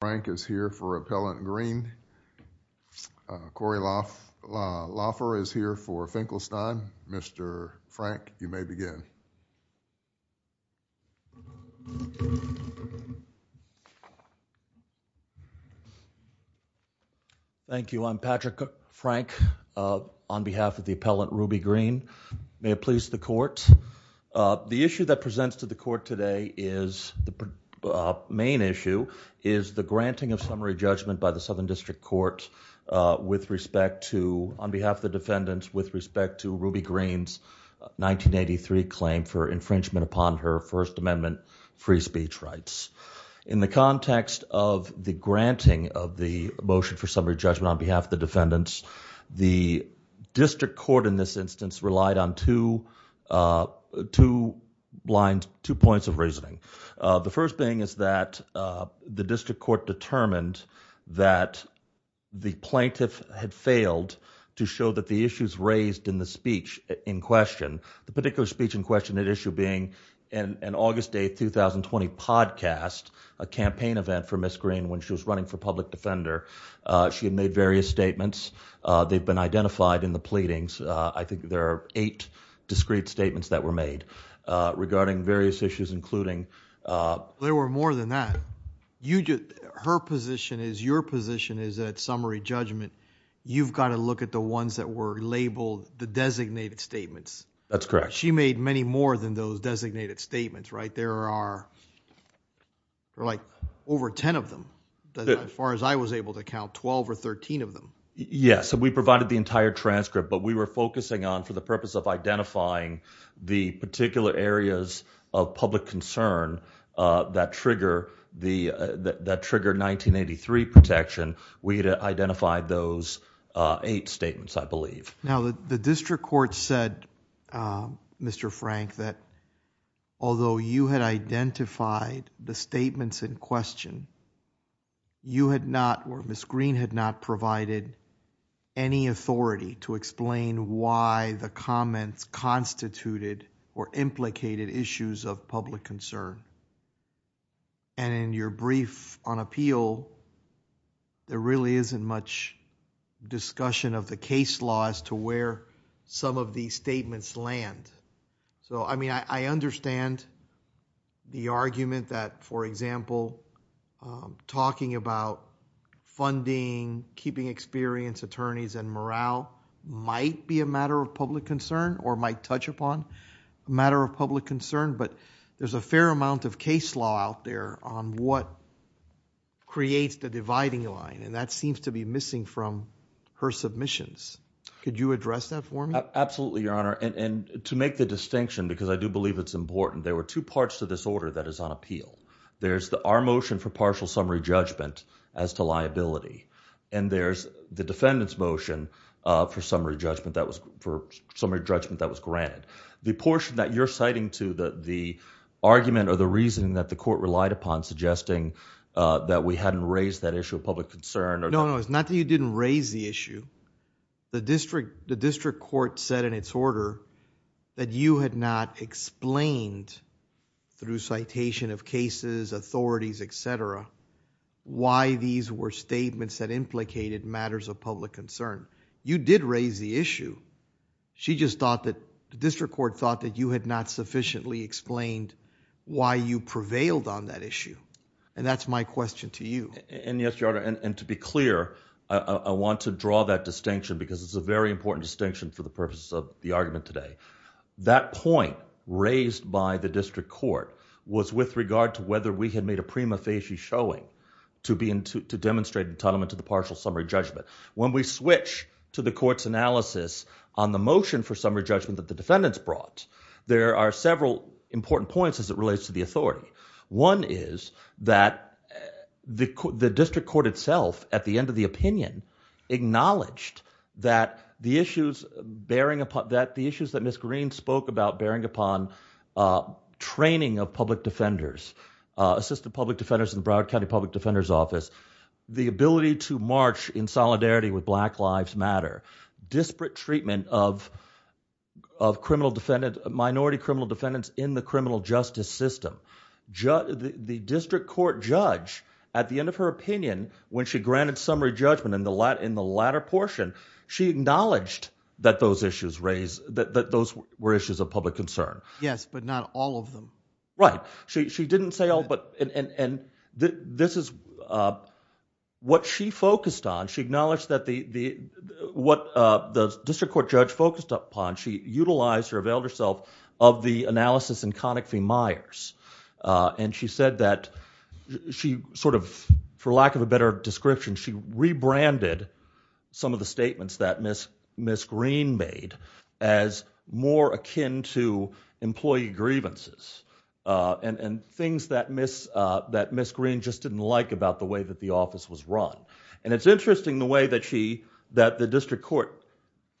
Frank is here for Appellant Green. Corey Laffer is here for Finkelstein. Mr. Frank, you may begin. Thank you. I'm Patrick Frank on behalf of the Appellant Ruby Green. May it please the court. The issue that presents to the court today is, the main issue, is the granting of summary judgment by the Southern District Court with respect to, on behalf of the defendants, with respect to Ruby Green's 1983 claim for infringement upon her First Amendment free speech rights. In the context of the granting of the motion for summary judgment on behalf of the defendants, the District Court in this instance relied on two lines, two points of reasoning. The first thing is that the District Court determined that the plaintiff had failed to show that the issues raised in the speech in question, the particular speech in question at issue being an August 8, 2020 podcast, a campaign event for Ms. Fender. She had made various statements. They've been identified in the pleadings. I think there are eight discrete statements that were made regarding various issues including… There were more than that. Her position is, your position is that summary judgment, you've got to look at the ones that were labeled the designated statements. That's correct. She made many more than those designated statements, right? There are like over ten of them. As far as I was able to count, 12 or 13 of them. Yes. We provided the entire transcript, but we were focusing on for the purpose of identifying the particular areas of public concern that triggered 1983 protection. We had identified those eight statements, I believe. Now, the District Court said, Mr. Frank, that although you had identified the statements in question, you had not or Ms. Green had not provided any authority to explain why the comments constituted or implicated issues of public concern. In your brief on appeal, there really isn't much discussion of the argument that, for example, talking about funding, keeping experienced attorneys and morale might be a matter of public concern or might touch upon a matter of public concern, but there's a fair amount of case law out there on what creates the dividing line. That seems to be missing from her submissions. Could you address that for me? Absolutely, Your Honor. To make the distinction, because I do believe it's important, there are two parts to this order that is on appeal. There's our motion for partial summary judgment as to liability, and there's the defendant's motion for summary judgment that was granted. The portion that you're citing to the argument or the reasoning that the court relied upon suggesting that we hadn't raised that issue of public concern... No, no. It's not that you didn't raise the issue. The District Court said in its order that you had not explained, through citation of cases, authorities, et cetera, why these were statements that implicated matters of public concern. You did raise the issue. She just thought that... The District Court thought that you had not sufficiently explained why you prevailed on that issue. That's my question to you. Yes, Your Honor. To be clear, I want to draw that distinction because it's a very important distinction for the purposes of the argument today. That point raised by the District Court was with regard to whether we had made a prima facie showing to demonstrate entitlement to the partial summary judgment. When we switch to the court's analysis on the motion for summary judgment that the defendants brought, there are several important points as it relates to the authority. One is that the District Court itself, at the end of the opinion, acknowledged that the issues that Ms. Green spoke about bearing upon training of public defenders, assistant public defenders in the Broward County Public Defender's Office, the ability to march in solidarity with Black Lives Matter, disparate treatment of minority criminal defendants in the criminal justice system. The District Court judge, at the end of her opinion, when she granted summary judgment in the latter portion, she acknowledged that those were issues of public concern. Yes, but not all of them. Right. She didn't say all, but this is what she focused on. She acknowledged that what the District Court judge focused upon, she utilized or availed herself of the analysis in Connick v. Myers. For lack of a better description, she rebranded some of the statements that Ms. Green made as more akin to employee grievances and things that Ms. Green just didn't like about the way that the office was run. It's interesting the way that the District Court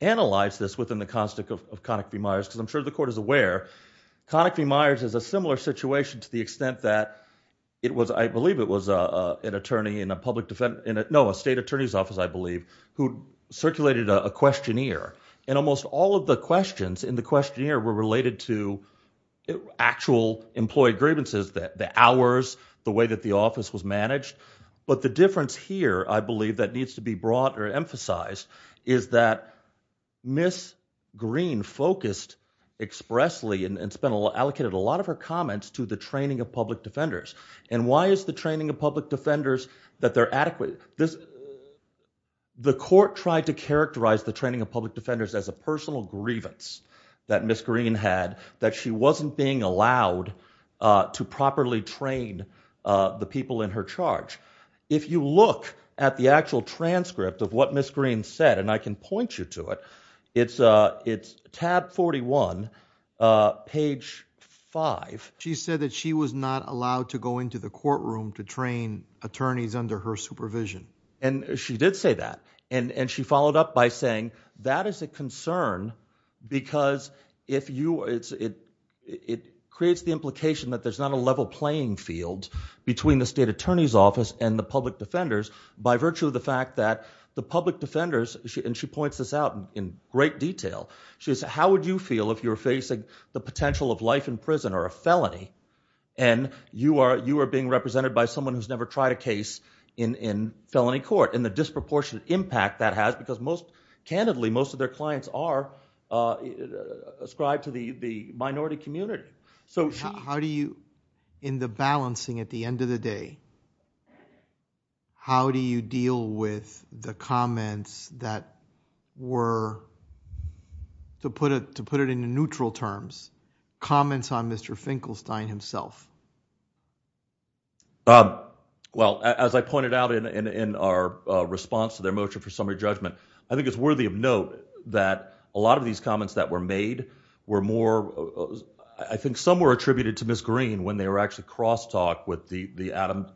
analyzed this within the context of Connick v. Myers, because I'm sure the Connick v. Myers is a similar situation to the extent that it was, I believe it was an attorney in a public defense, no, a state attorney's office, I believe, who circulated a questionnaire. Almost all of the questions in the questionnaire were related to actual employee grievances, the hours, the way that the office was managed. The difference here, I believe, that needs to be brought or emphasized is that Ms. Green focused expressly and spent a lot of time and allocated a lot of her comments to the training of public defenders. Why is the training of public defenders that they're adequate? The court tried to characterize the training of public defenders as a personal grievance that Ms. Green had, that she wasn't being allowed to properly train the people in her charge. If you look at the actual transcript of what Ms. Green said, and I can point you to it, it's tab 41, page 5. She said that she was not allowed to go into the courtroom to train attorneys under her supervision. She did say that, and she followed up by saying that is a concern because it creates the implication that there's not a level playing field between the state attorney's office and the public defenders by virtue of the fact that the public defenders, and she points this out in great detail, she said, how would you feel if you're facing the potential of life in prison or a felony, and you are being represented by someone who's never tried a case in felony court, and the disproportionate impact that has because most, candidly, most of their clients are ascribed to the minority community. How do you, in the balancing at the end of the day, how do you deal with the comments that were, to put it in neutral terms, comments on Mr. Finkelstein himself? Well, as I pointed out in our response to their motion for summary judgment, I think it's worthy of note that a lot of these comments that were made were more, I think some were attributed to Ms. Green when they were actually cross-talked with the Adam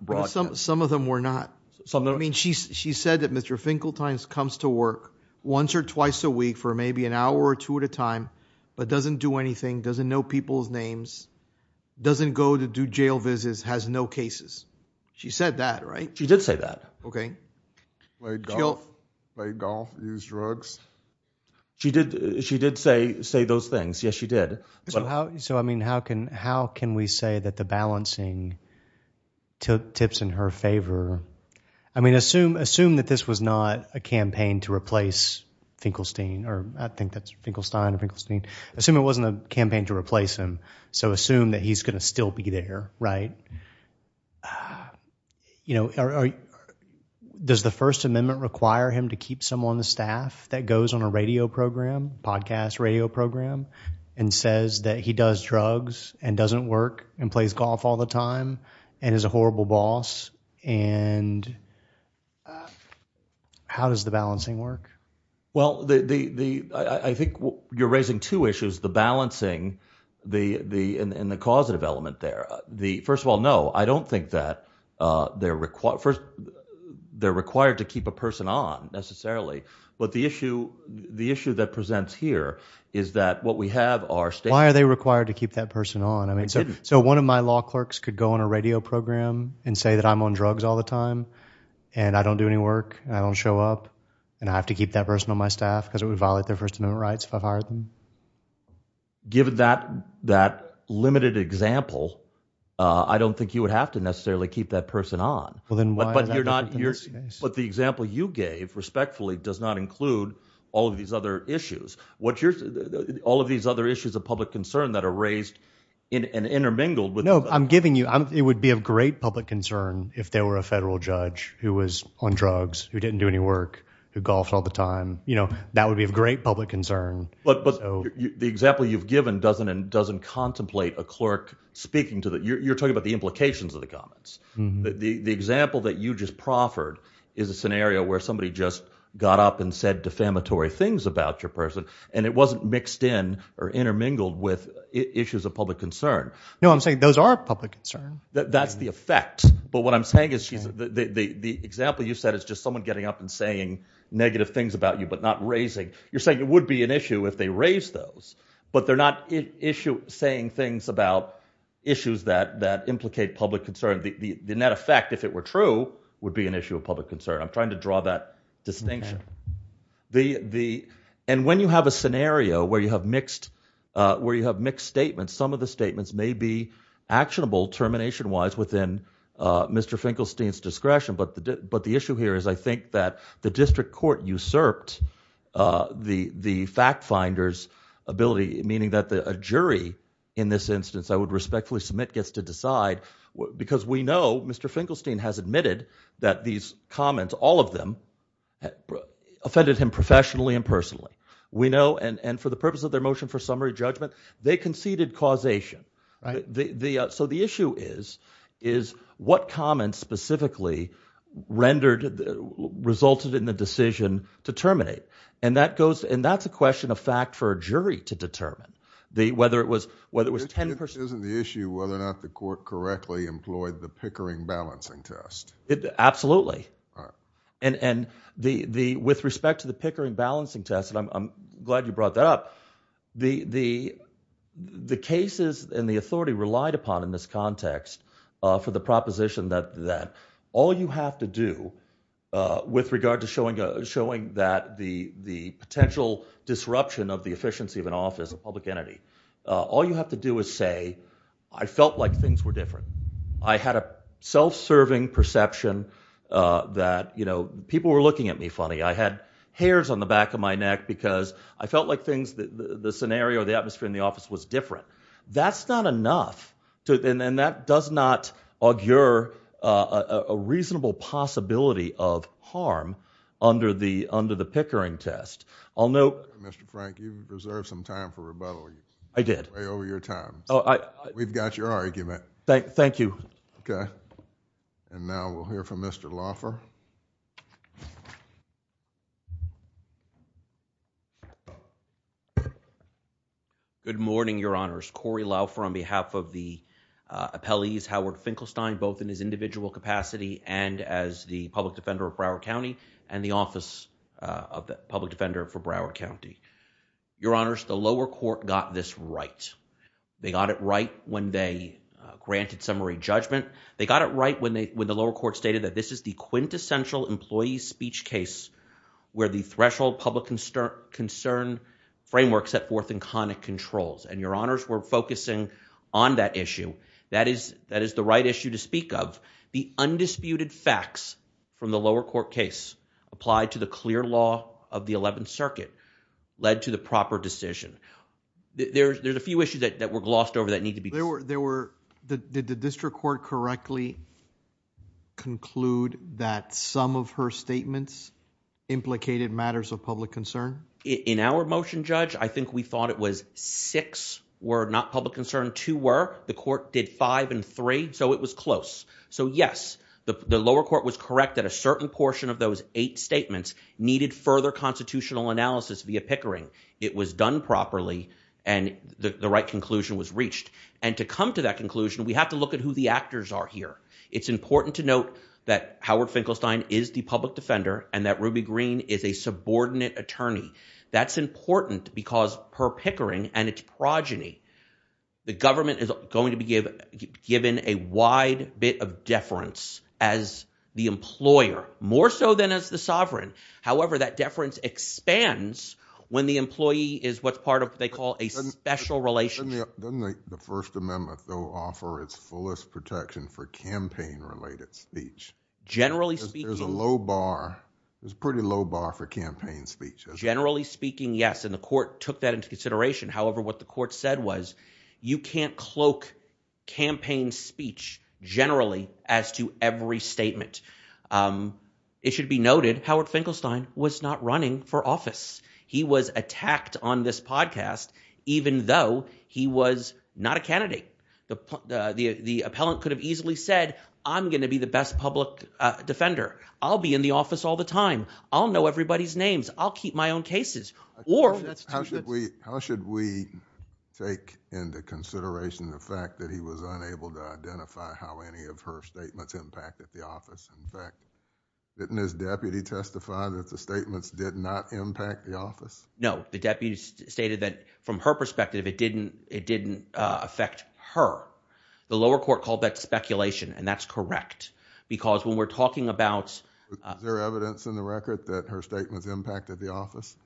Some of them were not. I mean, she said that Mr. Finkelstein comes to work once or twice a week for maybe an hour or two at a time, but doesn't do anything, doesn't know people's names, doesn't go to do jail visits, has no cases. She said that, right? She did say that. Played golf, used drugs. She did say those things. Yes, she did. So, I mean, how can we say that the balancing took tips in her favor? I mean, assume that this was not a campaign to replace Finkelstein, or I think that's Finkelstein or Finkelstein. Assume it wasn't a campaign to replace him. So assume that he's going to still be there, right? Does the First Amendment require him to keep someone on the staff that goes on a radio program, podcast, radio program, and says that he does drugs and doesn't work and plays golf all the time and is a horrible boss? And how does the balancing work? Well, I think you're raising two issues, the balancing and the causative element there. First of all, no, I don't think that they're required to keep a person on necessarily. But the issue that presents here is that what we have are... Why are they required to keep that person on? I mean, so one of my law clerks could go on a radio program and say that I'm on drugs all the time and I don't do any work, I don't show up, and I have to keep that person on my staff because it would violate their First Amendment rights if I hired them. Given that limited example, I don't think you would have to necessarily keep that person on. But the example you gave, respectfully, does not include all of these other issues. All of these other issues of public concern that are raised and intermingled with... No, I'm giving you... It would be of great public concern if there were a federal judge who was on drugs, who didn't do any work, who golfed all the time. That would be of great public concern. But the example you've given doesn't contemplate a clerk speaking to the... The example that you just proffered is a scenario where somebody just got up and said defamatory things about your person, and it wasn't mixed in or intermingled with issues of public concern. No, I'm saying those are public concern. That's the effect. But what I'm saying is the example you said is just someone getting up and saying negative things about you, but not raising. You're saying it would be an issue if they raised those, but they're not saying things about issues that implicate public concern. The net effect, if it were true, would be an issue of public concern. I'm trying to draw that distinction. And when you have a scenario where you have mixed statements, some of the statements may be actionable termination-wise within Mr. Finkelstein's discretion. But the issue here is I think that the district court usurped the fact finder's ability, meaning that a jury in this instance, I would respectfully submit, gets to decide because we know Mr. Finkelstein has admitted that these comments, all of them, offended him professionally and personally. We know, and for the purpose of their motion for summary judgment, they conceded causation. So the issue is what comments specifically resulted in the decision to terminate? And that's a question of fact for a jury to determine, whether it was 10 percent. Isn't the issue whether or not the court correctly employed the Pickering balancing test? Absolutely. And with respect to the Pickering balancing test, and I'm glad you brought that up, the cases and the authority relied upon in this context for the proposition that all you have to do with regard to showing that the potential disruption of the efficiency of an office, a public entity, all you have to do is say, I felt like things were different. I had a self-serving perception that people were looking at me funny. I had hairs on the back of my neck because I felt like things, the scenario, the atmosphere in the office was different. That's not enough to, and that does not augur a reasonable possibility of harm under the Pickering test. I'll note. Mr. Frank, you've reserved some time for rebuttal. I did. Way over your time. We've got your argument. Thank you. Okay. And now we'll hear from Mr. Finkelstein. Good morning, Your Honors. Cory Laufer on behalf of the appellees, Howard Finkelstein, both in his individual capacity and as the public defender of Broward County and the office of the public defender for Broward County. Your Honors, the lower court got this right. They got it right when they granted summary judgment. They got it right when they, when the lower court stated that this is the quintessential employee speech case where the threshold public concern concern framework set forth in conic controls, and Your Honors were focusing on that issue. That is, that is the right issue to speak of. The undisputed facts from the lower court case applied to the clear law of the 11th circuit led to the proper decision. There's, there's a few issues that were glossed over that need to be. There were, there were the, did the district court correctly conclude that some of her statements implicated matters of public concern in our motion judge? I think we thought it was six were not public concern to where the court did five and three. So it was close. So yes, the lower court was correct that a certain portion of those eight statements needed further constitutional analysis via Pickering. It was done properly and the right conclusion was reached. And to come to that conclusion, we have to look at who the actors are here. It's important to note that Howard Finkelstein is the public defender and that Ruby green is a subordinate attorney. That's important because per Pickering and its progeny, the government is going to be given a wide bit of deference as the employer more so than as the special relationship. Doesn't the first amendment though offer its fullest protection for campaign related speech? Generally speaking, there's a low bar. There's a pretty low bar for campaign speech. Generally speaking. Yes. And the court took that into consideration. However, what the court said was you can't cloak campaign speech generally as to every statement. It should be noted. Howard Finkelstein was not running for office. He was attacked on this podcast, even though he was not a candidate. The appellant could have easily said, I'm going to be the best public defender. I'll be in the office all the time. I'll know everybody's names. I'll keep my own cases. How should we take into consideration the fact that he was unable to identify how any of her statements impacted the office? In fact, didn't his deputy testify that the statements did not impact the office? No, the deputy stated that from her perspective, it didn't, it didn't affect her. The lower court called that speculation. And that's correct. Because when we're talking about their evidence in the record that her statements impacted the office,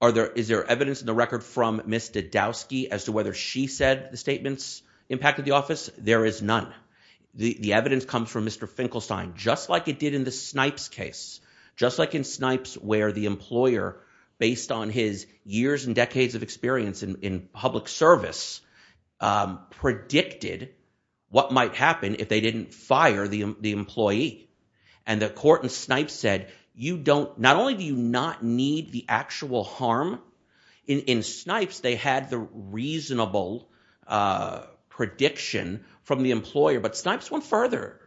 are there, is there evidence in the record from Mr. Dowski as to whether she said the statements impacted the office? There is none. The evidence comes from Mr. Finkelstein, just like it did in the Snipes case, just like in Snipes, where the employer, based on his years and decades of experience in public service, predicted what might happen if they didn't fire the employee. And the court in Snipes said, you don't, not only do you not need the actual harm in Snipes, they had the reasonable prediction from the employer, but Snipes went further.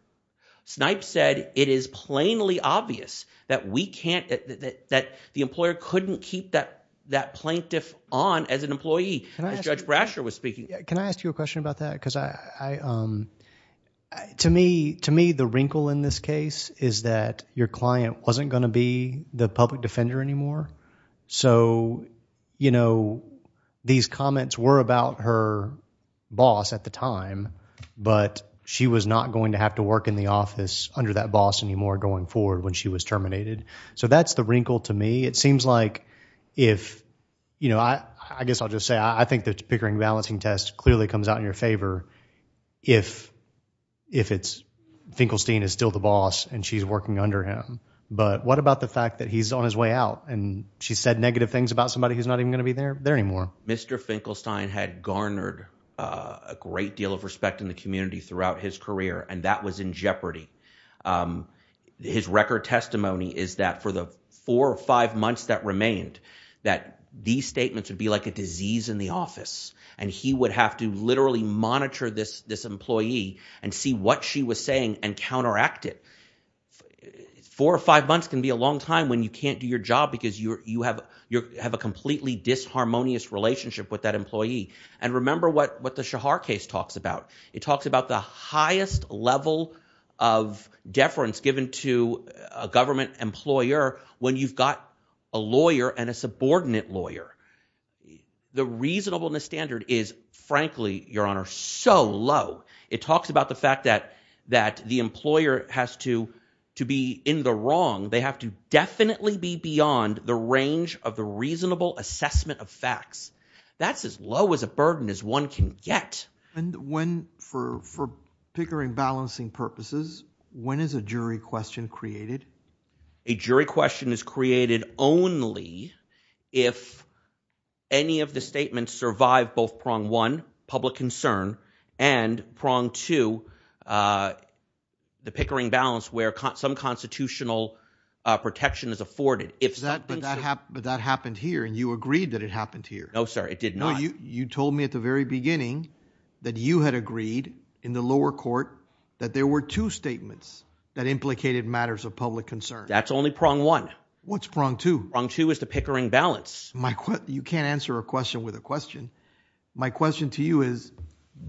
Snipes said it is plainly obvious that we can't, that the employer couldn't keep that, that plaintiff on as an employee, as Judge Brasher was speaking. Can I ask you a question about that? Because I, to me, to me, the wrinkle in this case is that your client wasn't going to be the public defender anymore. So, you know, these comments were about her boss at the time, but she was not going to have to work in the office under that boss anymore going forward when she was terminated. So that's the wrinkle to me. It seems like if, you know, I guess I'll just say I think the Pickering balancing test clearly comes out in your favor if, if it's, Finkelstein is still the boss and she's working under him. But what about the fact that he's on his way out and she said negative things about somebody who's not even going to be there anymore? Mr. Finkelstein had garnered a great deal of respect in the community throughout his career and that was in jeopardy. His record testimony is that for the four or five months that remained, that these statements would be like a disease in the office and he would have to literally monitor this, this employee and see what she was saying and counteract it. Four or five months can be a long time when you can't do your job because you're, you have, you have a completely disharmonious relationship with that employee. And remember what, what the Shahar case talks about. It talks about the highest level of deference given to a government employer when you've got a lawyer and a subordinate lawyer. The reasonableness standard is frankly, your honor, so low. It talks about the fact that, that the employer has to, to be in the wrong. They have to definitely be beyond the range of the reasonable assessment of facts. That's as low as a burden as one can get. And when, for, for Pickering balancing purposes, when is a jury question created? A jury question is created only if any of the statements survive both prong one, public concern, and prong two, the Pickering balance where some constitutional protection is afforded. If that, but that, but that happened here and you agreed that it happened here. No, sir, it did not. You, you told me at the very beginning that you had agreed in the lower court that there were two statements that implicated matters of public concern. That's only prong one. What's prong two? Prong two is the Pickering balance. My, you can't answer a question with a question. My question to you is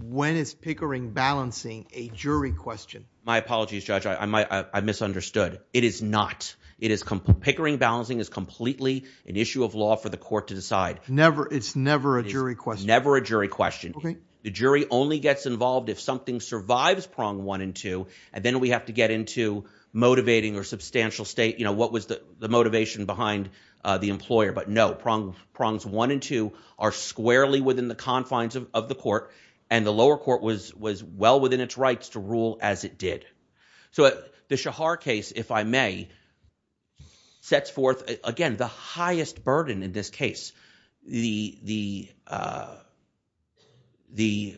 when is Pickering balancing a jury question? My apologies, I misunderstood. It is not. It is Pickering balancing is completely an issue of law for the court to decide. Never. It's never a jury question. Never a jury question. Okay. The jury only gets involved if something survives prong one and two, and then we have to get into motivating or substantial state. You know, what was the motivation behind the employer? But no prong, prongs one and two are squarely within the confines of the court. And the lower court was, well within its rights to rule as it did. So the Shahar case, if I may, sets forth, again, the highest burden in this case. The, the, the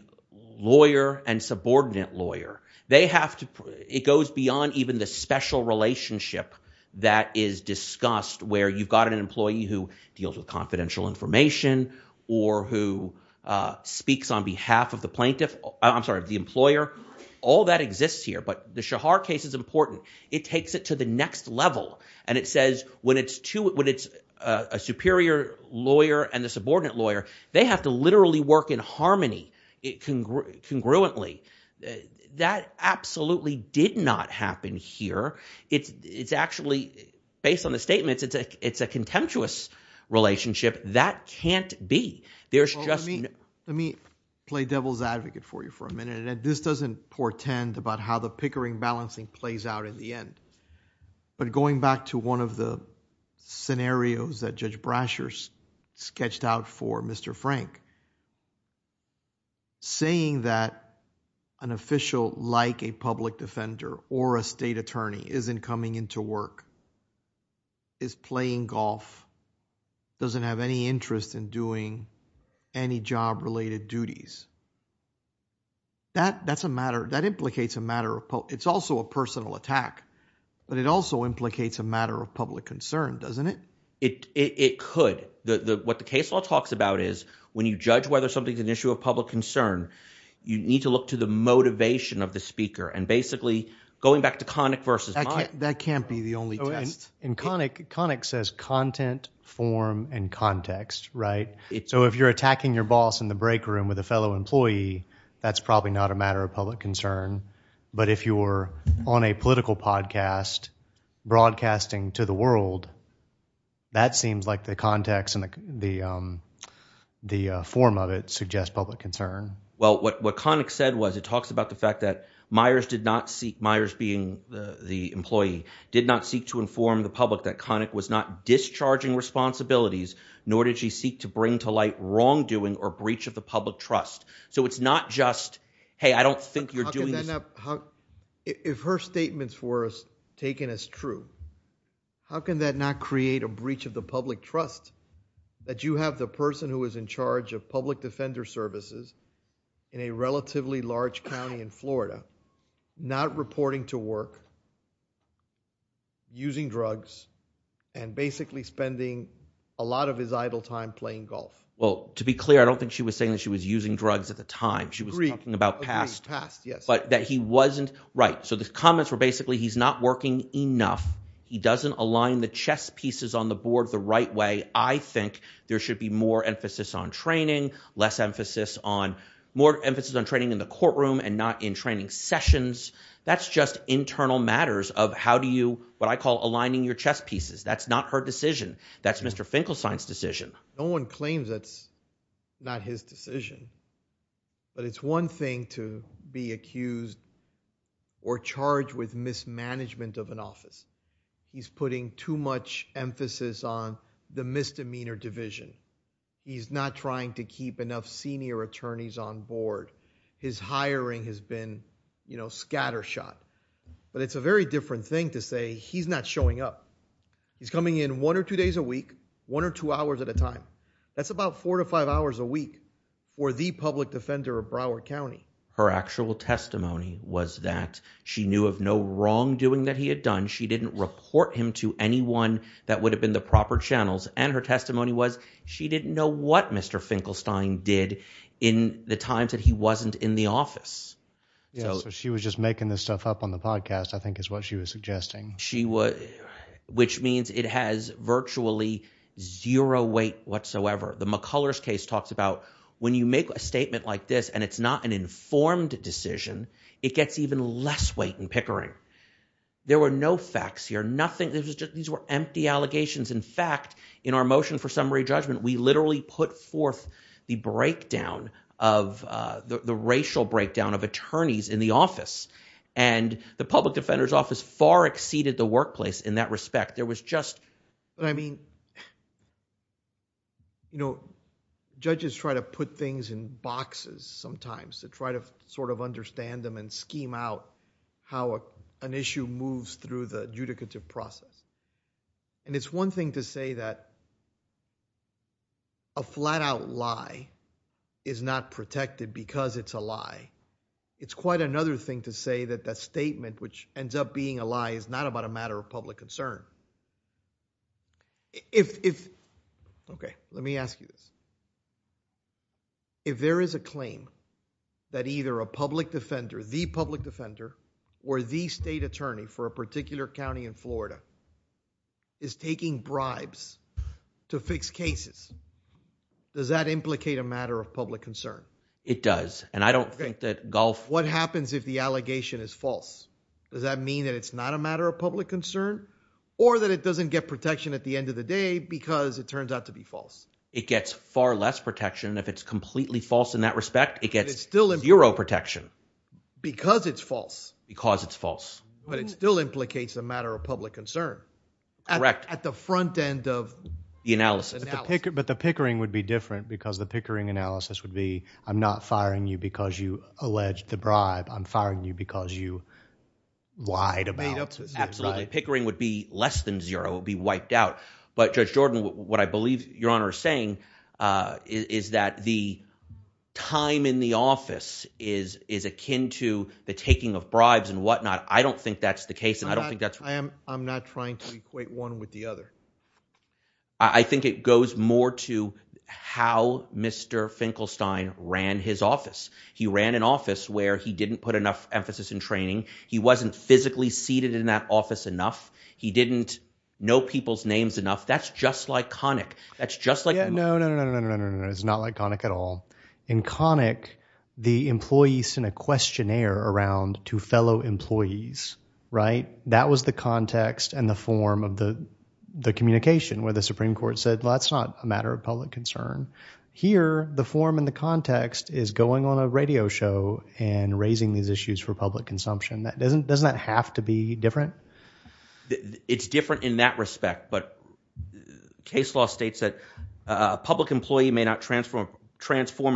lawyer and subordinate lawyer, they have to, it goes beyond even the special relationship that is discussed where you've got an employee who deals with confidential information or who speaks on behalf of the employer. All that exists here, but the Shahar case is important. It takes it to the next level. And it says when it's two, when it's a superior lawyer and the subordinate lawyer, they have to literally work in harmony. It can congruently that absolutely did not happen here. It's, it's actually based on the statements. It's a, it's a contemptuous relationship. That can't be, there's just, let me play devil's advocate for you for a minute. And this doesn't portend about how the pickering balancing plays out in the end, but going back to one of the scenarios that Judge Brashers sketched out for Mr. Frank, saying that an official like a public defender or a state attorney isn't coming into work, is playing golf, doesn't have any interest in doing any job related duties. That that's a matter that implicates a matter of, it's also a personal attack, but it also implicates a matter of public concern, doesn't it? It, it could, the, the, what the case law talks about is when you judge whether something's an issue of public concern, you need to look to the motivation of the speaker and basically going back to Connick versus Meyers. That can't be the only test. And Connick, Connick says content, form, and context, right? So if you're attacking your boss in the break room with a fellow employee, that's probably not a matter of public concern. But if you're on a political podcast broadcasting to the world, that seems like the context and the, the form of it suggests public concern. Well, what, what Connick said was it talks about the fact that Meyers did not seek, Meyers being the, the employee, did not seek to inform the public that Connick was not discharging responsibilities, nor did she seek to bring to light wrongdoing or breach of the public trust. So it's not just, hey, I don't think you're doing this. How, if her statements were taken as true, how can that not create a breach of the public trust that you have the person who is in charge of public defender services in a relatively large county in Florida, not reporting to work, using drugs and basically spending a lot of his idle time playing golf? Well, to be clear, I don't think she was saying that she was using drugs at the time she was talking about past, but that he wasn't right. So the comments were basically, he's not working enough. He doesn't align the chess pieces on the board the right way. I think there should be more emphasis on training, less emphasis on, more emphasis on training in the courtroom and not in training sessions. That's just internal matters of how do you, what I call aligning your chess pieces. That's not her decision. That's Mr. Finkelstein's decision. No one claims that's not his decision, but it's one thing to be accused or charged with mismanagement of an office. He's putting too much emphasis on the misdemeanor division. He's not trying to keep enough senior attorneys on board. His hiring has been, you know, scattershot, but it's a very different thing to say he's not showing up. He's coming in one or two days a week, one or two hours at a time. That's about four to five hours a week for the public defender of Broward County. Her actual testimony was that she knew of no wrongdoing that he had done. She didn't report him to anyone that would have been the proper channels. And her testimony was she didn't know what Mr. Finkelstein did in the times that he wasn't in the office. Yeah, so she was just making this stuff up on the podcast, I think is what she was suggesting. She was, which means it has virtually zero weight whatsoever. The McCullers case talks about when you make a statement like this and it's not an informed decision, it gets even less weight in pickering. There were no facts here, nothing. These were empty allegations. In fact, in our motion for summary judgment, we literally put forth the breakdown of, the racial breakdown of attorneys in the office and the public defender's office far exceeded the workplace in that respect. There was just, I mean, you know, judges try to put things in boxes sometimes to try to sort of understand them and scheme out how an issue moves through the adjudicative process. And it's one thing to say that a flat out lie is not protected because it's a lie. It's quite another thing to say that that statement which ends up being a lie is not about a matter of public concern. If, okay, let me ask you this. If there is a claim that either a public defender, the public defender or the state attorney for a particular county in Florida is taking bribes to fix cases, does that implicate a matter of public concern? It does. And I don't think that Gulf... What happens if the allegation is false? Does that mean that it's not a matter of public concern or that it doesn't get protection at the end of the day because it turns out to be false? It gets far less protection. If it's completely false in that respect, it gets zero protection. Because it's false. Because it's false. But it still implicates a matter of public concern at the front end of the analysis. But the pickering would be different because the pickering analysis would be, I'm not firing you because you alleged the bribe. I'm firing you because you lied about it. Absolutely. Pickering would be less than zero. It would be wiped out. But Judge Jordan, what I believe Your Honor is saying is that the time in the office is akin to the taking of bribes and whatnot. I don't think that's the case and I don't think that's... I'm not trying to equate one with the other. I think it goes more to how Mr. Finkelstein ran his office. He ran an office where he didn't put enough emphasis in training. He wasn't physically seated in that office enough. He didn't know people's names enough. That's just like Connick. That's just like... It's not like Connick at all. In Connick, the employees sent a questionnaire around to fellow employees, right? That was the context and the form of the communication where the Supreme Court said, well, that's not a matter of public concern. Here, the form and the context is going on a radio show and raising these issues for public consumption. Doesn't that have to be different? It's different in that respect, but case law states that a public employee may not transform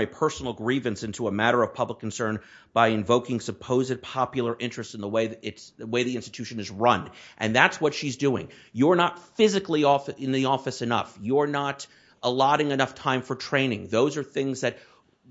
a personal grievance into a matter of public concern by invoking supposed popular interest in the way the institution is run. And that's what she's doing. You're not physically in the office enough. You're not allotting enough time for training. Those are things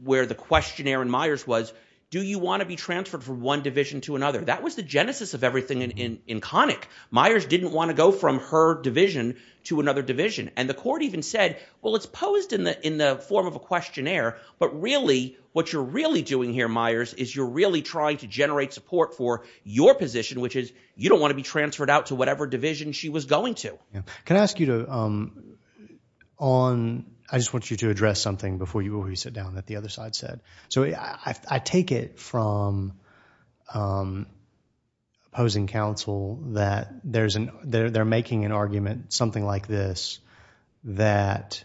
where the questionnaire in Myers was, do you want to be transferred from one division to another? That was the genesis of everything in Connick. Myers didn't want to go from her division to another division. And the court even said, well, it's posed in the form of a questionnaire, but really what you're really doing here, Myers, is you're really trying to generate support for your position, which is you don't want to be transferred out to whatever division she was going to. Can I ask you to... I just want you to address something before you sit down that the other side said. I take it from opposing counsel that they're making an argument, something like this, that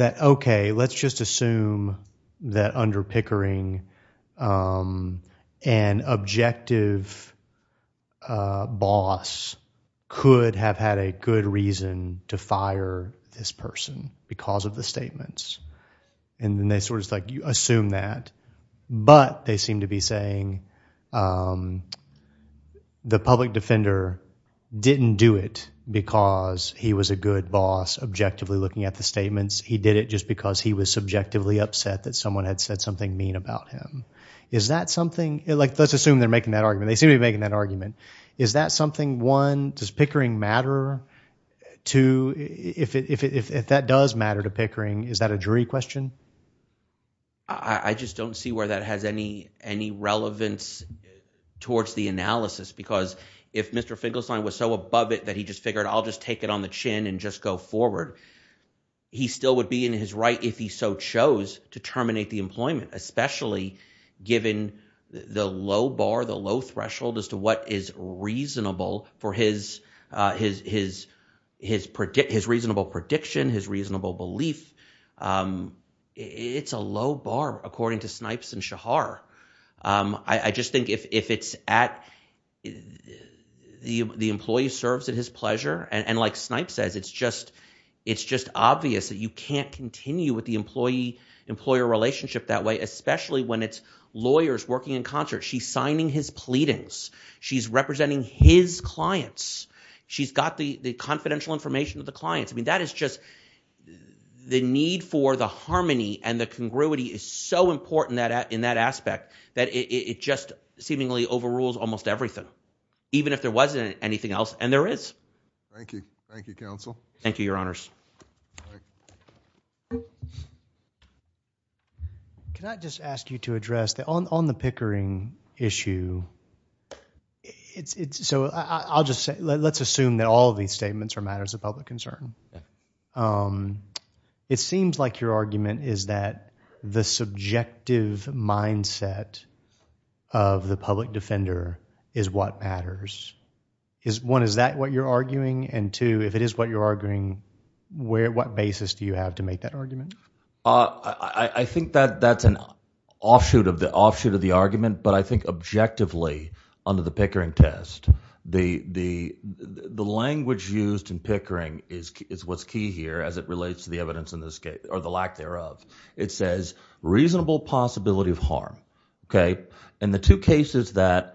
okay, let's just assume that under Pickering, an objective boss could have had a good reason to fire this person because of the statements. And then they sort of assume that, but they seem to be saying the public defender didn't do it because he was a good boss objectively looking at the statements. He did it just because he was subjectively upset that someone had said something mean about him. Is that something... Let's assume they're making that argument. They do... If that does matter to Pickering, is that a jury question? I just don't see where that has any relevance towards the analysis, because if Mr. Finkelstein was so above it that he just figured, I'll just take it on the chin and just go forward, he still would be in his right if he so chose to terminate the employment, especially given the low bar, the low threshold as to what is reasonable for his reasonable prediction, his reasonable belief. It's a low bar according to Snipes and Shahar. I just think if it's at... The employee serves at his pleasure. And like Snipes says, it's just obvious that you can't continue with the employee-employer relationship that way, especially when it's lawyers working in concert. She's signing his pleadings. She's representing his clients. She's got the confidential information of the clients. I mean, that is just... The need for the harmony and the congruity is so important in that aspect that it just seemingly overrules almost everything, even if there wasn't anything else, and there is. Thank you. Thank you, counsel. Thank you, your honors. Can I just ask you to address that on the Pickering issue, so I'll just say, let's assume that all of these statements are matters of public concern. It seems like your argument is that the subjective mindset of the public defender is what matters. One, is that what you're arguing? Two, if it is what you're arguing, what basis do you have to make that argument? I think that that's an offshoot of the argument, but I think objectively, under the Pickering test, the language used in Pickering is what's key here as it relates to the evidence in this case, or the lack thereof. It says, reasonable possibility of harm. And the two cases that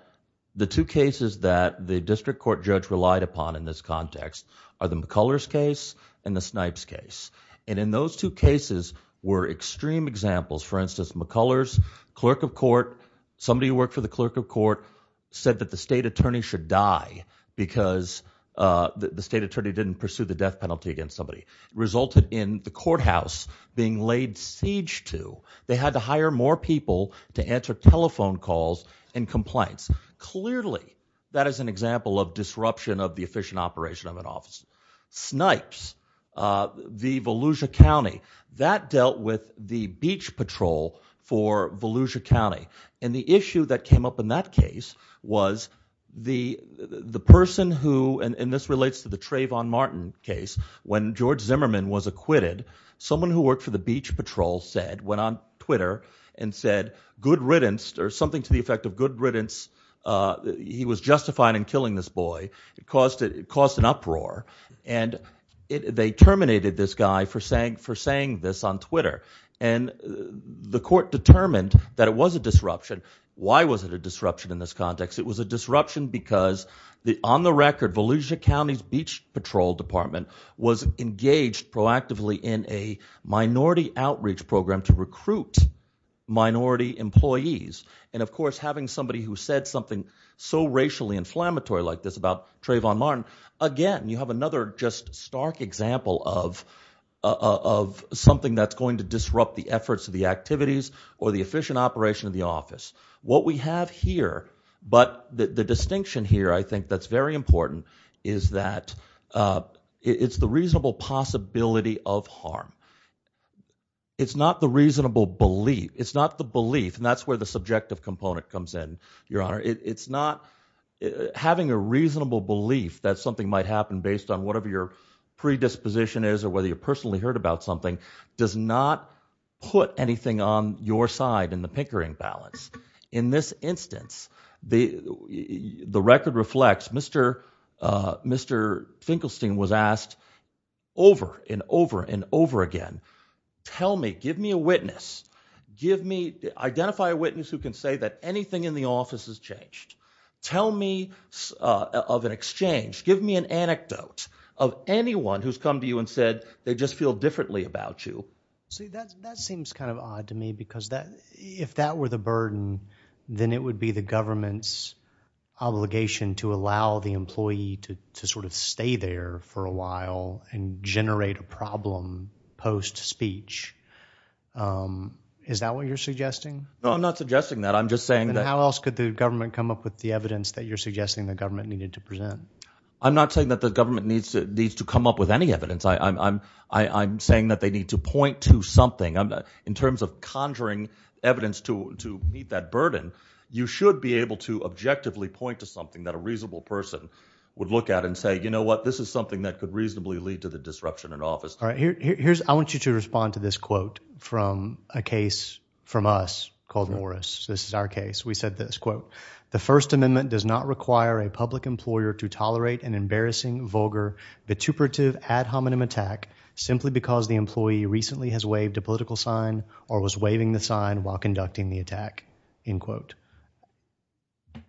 the district court judge relied upon in this context are the Pickering case and the Snipes case. And in those two cases were extreme examples. For instance, McCullers, clerk of court, somebody who worked for the clerk of court said that the state attorney should die because the state attorney didn't pursue the death penalty against somebody. Resulted in the courthouse being laid siege to. They had to hire more people to answer telephone calls and complaints. Clearly, that is an example of disruption of the efficient operation of an office. Snipes, the Volusia County, that dealt with the beach patrol for Volusia County. And the issue that came up in that case was the person who, and this relates to the Trayvon Martin case, when George Zimmerman was acquitted, someone who worked for the beach patrol said, went on Twitter and said, good riddance, or something to the effect of good uproar. And they terminated this guy for saying this on Twitter. And the court determined that it was a disruption. Why was it a disruption in this context? It was a disruption because on the record, Volusia County's beach patrol department was engaged proactively in a minority outreach program to recruit minority employees. And of course, having somebody who again, you have another just stark example of something that's going to disrupt the efforts of the activities or the efficient operation of the office. What we have here, but the distinction here, I think that's very important, is that it's the reasonable possibility of harm. It's not the reasonable belief. It's not the belief. And that's where the subjective component comes in, Your Honor. It's not having a reasonable belief that something might happen based on whatever your predisposition is or whether you personally heard about something does not put anything on your side in the pinkering balance. In this instance, the record reflects Mr. Finkelstein was asked over and over and over again, tell me, give me a witness, give me, identify a witness who can say that anything in the office has changed. Tell me of an exchange, give me an anecdote of anyone who's come to you and said they just feel differently about you. See, that seems kind of odd to me because if that were the burden, then it would be the government's obligation to allow the employee to sort of stay there for a while and generate a problem post-speech. Is that what you're suggesting? No, I'm not suggesting that. I'm just saying that. How else could the government come up with the evidence that you're suggesting the government needed to present? I'm not saying that the government needs to come up with any evidence. I'm saying that they need to point to something. In terms of conjuring evidence to meet that burden, you should be able to objectively point to something that a reasonable person would look at and say, you know what, this is something that could reasonably lead to the disruption in office. All right, here's, I want you to respond to this quote from a case from us called Morris. This is our case. We said this quote, the First Amendment does not require a public employer to tolerate an embarrassing, vulgar, vituperative ad hominem attack simply because the employee recently has waived a political sign or was waiving the sign while conducting the attack, end quote.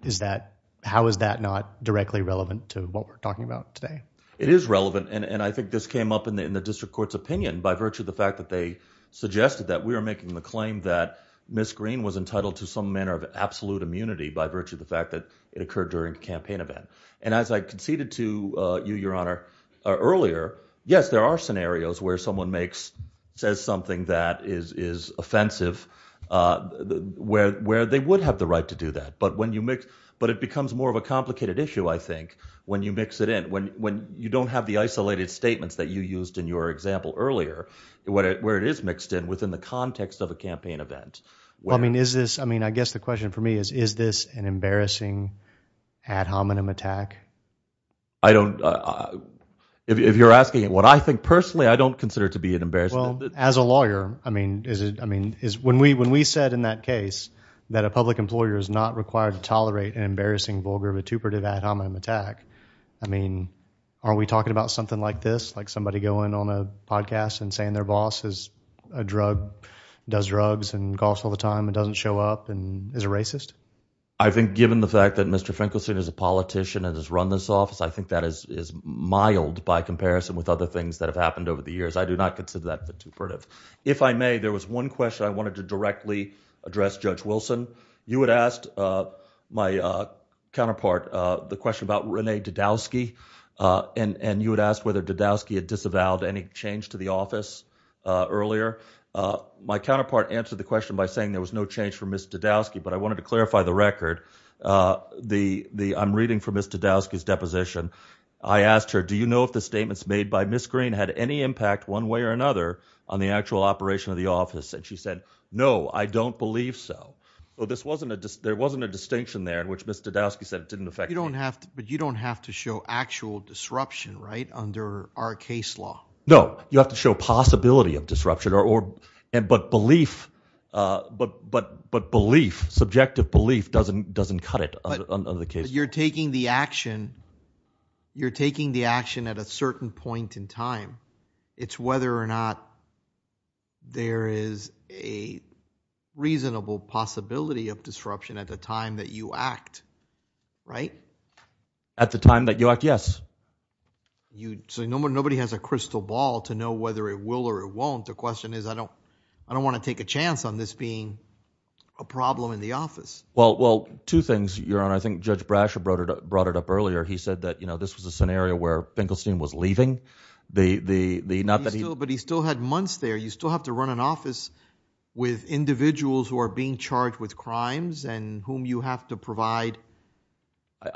Is that, how is that not directly relevant to what we're talking about today? It is relevant, and I think this came up in the district court's opinion by virtue of the fact that they suggested that we were making the claim that Ms. Green was entitled to some manner of absolute immunity by virtue of the fact that it occurred during a campaign event. And as I conceded to you, your honor, earlier, yes, there are scenarios where someone makes, says something that is offensive, where they would have the right to do that. But when you mix, but it becomes more of a complicated issue, I think, when you mix it in, when you don't have the isolated statements that you used in your example earlier, where it is mixed in within the context of a campaign event. I mean, is this, I mean, I guess the question for me is, is this an embarrassing ad hominem attack? I don't, if you're asking what I think personally, I don't consider it to be an embarrassment. Well, as a lawyer, I mean, is it, I mean, is when we, when we said in that case that a public employer is not required to tolerate an embarrassing, vulgar, vituperative ad hominem attack, I mean, are we talking about something like this? Like somebody going on a podcast and saying their boss is a drug, does drugs and coughs all the time and doesn't show up and is a racist? I think given the fact that Mr. Finkelstein is a politician and has run this office, I think that is, is mild by comparison with other things that have happened over the years. I do not consider that vituperative. If I may, there was one question I wanted to directly address Judge Wilson. You had asked my counterpart, the question about Renee Dodowski, and you had asked whether Dodowski had disavowed any change to the office earlier. My counterpart answered the question by saying there was no change for Ms. Dodowski, but I wanted to clarify the record. The, I'm reading from Ms. Dodowski's deposition. I asked her, do you know if the statements made by Ms. Green had any impact one way or another on the actual operation of the office? And she said, no, I don't believe so. Well, this wasn't a dis, there wasn't a distinction there in which Ms. Dodowski said it didn't affect. You don't have to, but you don't have to show actual disruption, right? Under our case law. No, you have to show possibility of disruption or, or, and, but belief but, but, but belief, subjective belief doesn't, doesn't cut it on the case. You're taking the action, you're taking the action at a certain point in time. It's whether or not there is a reasonable possibility of disruption at the time that you act, right? At the time that you act, yes. You, so nobody has a crystal ball to know whether it will or it won't. The question is, I don't, I don't want to take a chance on this being a problem in the earlier. He said that, you know, this was a scenario where Finkelstein was leaving the, the, the, not that he still, but he still had months there. You still have to run an office with individuals who are being charged with crimes and whom you have to provide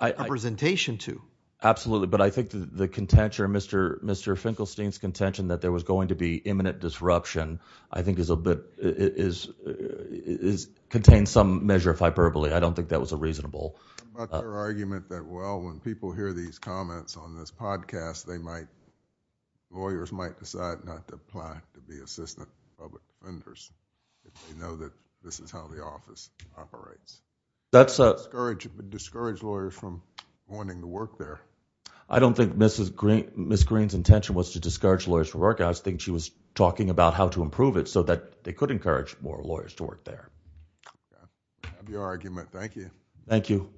representation to. Absolutely. But I think the contention, Mr. Mr. Finkelstein's contention that there was going to be imminent disruption, I think is a bit, is, is contained some measure of hyperbole. I don't think that was a reasonable argument that, well, when people hear these comments on this podcast, they might, lawyers might decide not to apply to be assistant public defenders. They know that this is how the office operates. That's a discourage, discourage lawyers from wanting to work there. I don't think Mrs. Green, Ms. Green's intention was to discourage lawyers to work. I think she was talking about how to improve it so that they could encourage more lawyers to work there. I love your argument. Thank you. Thank you.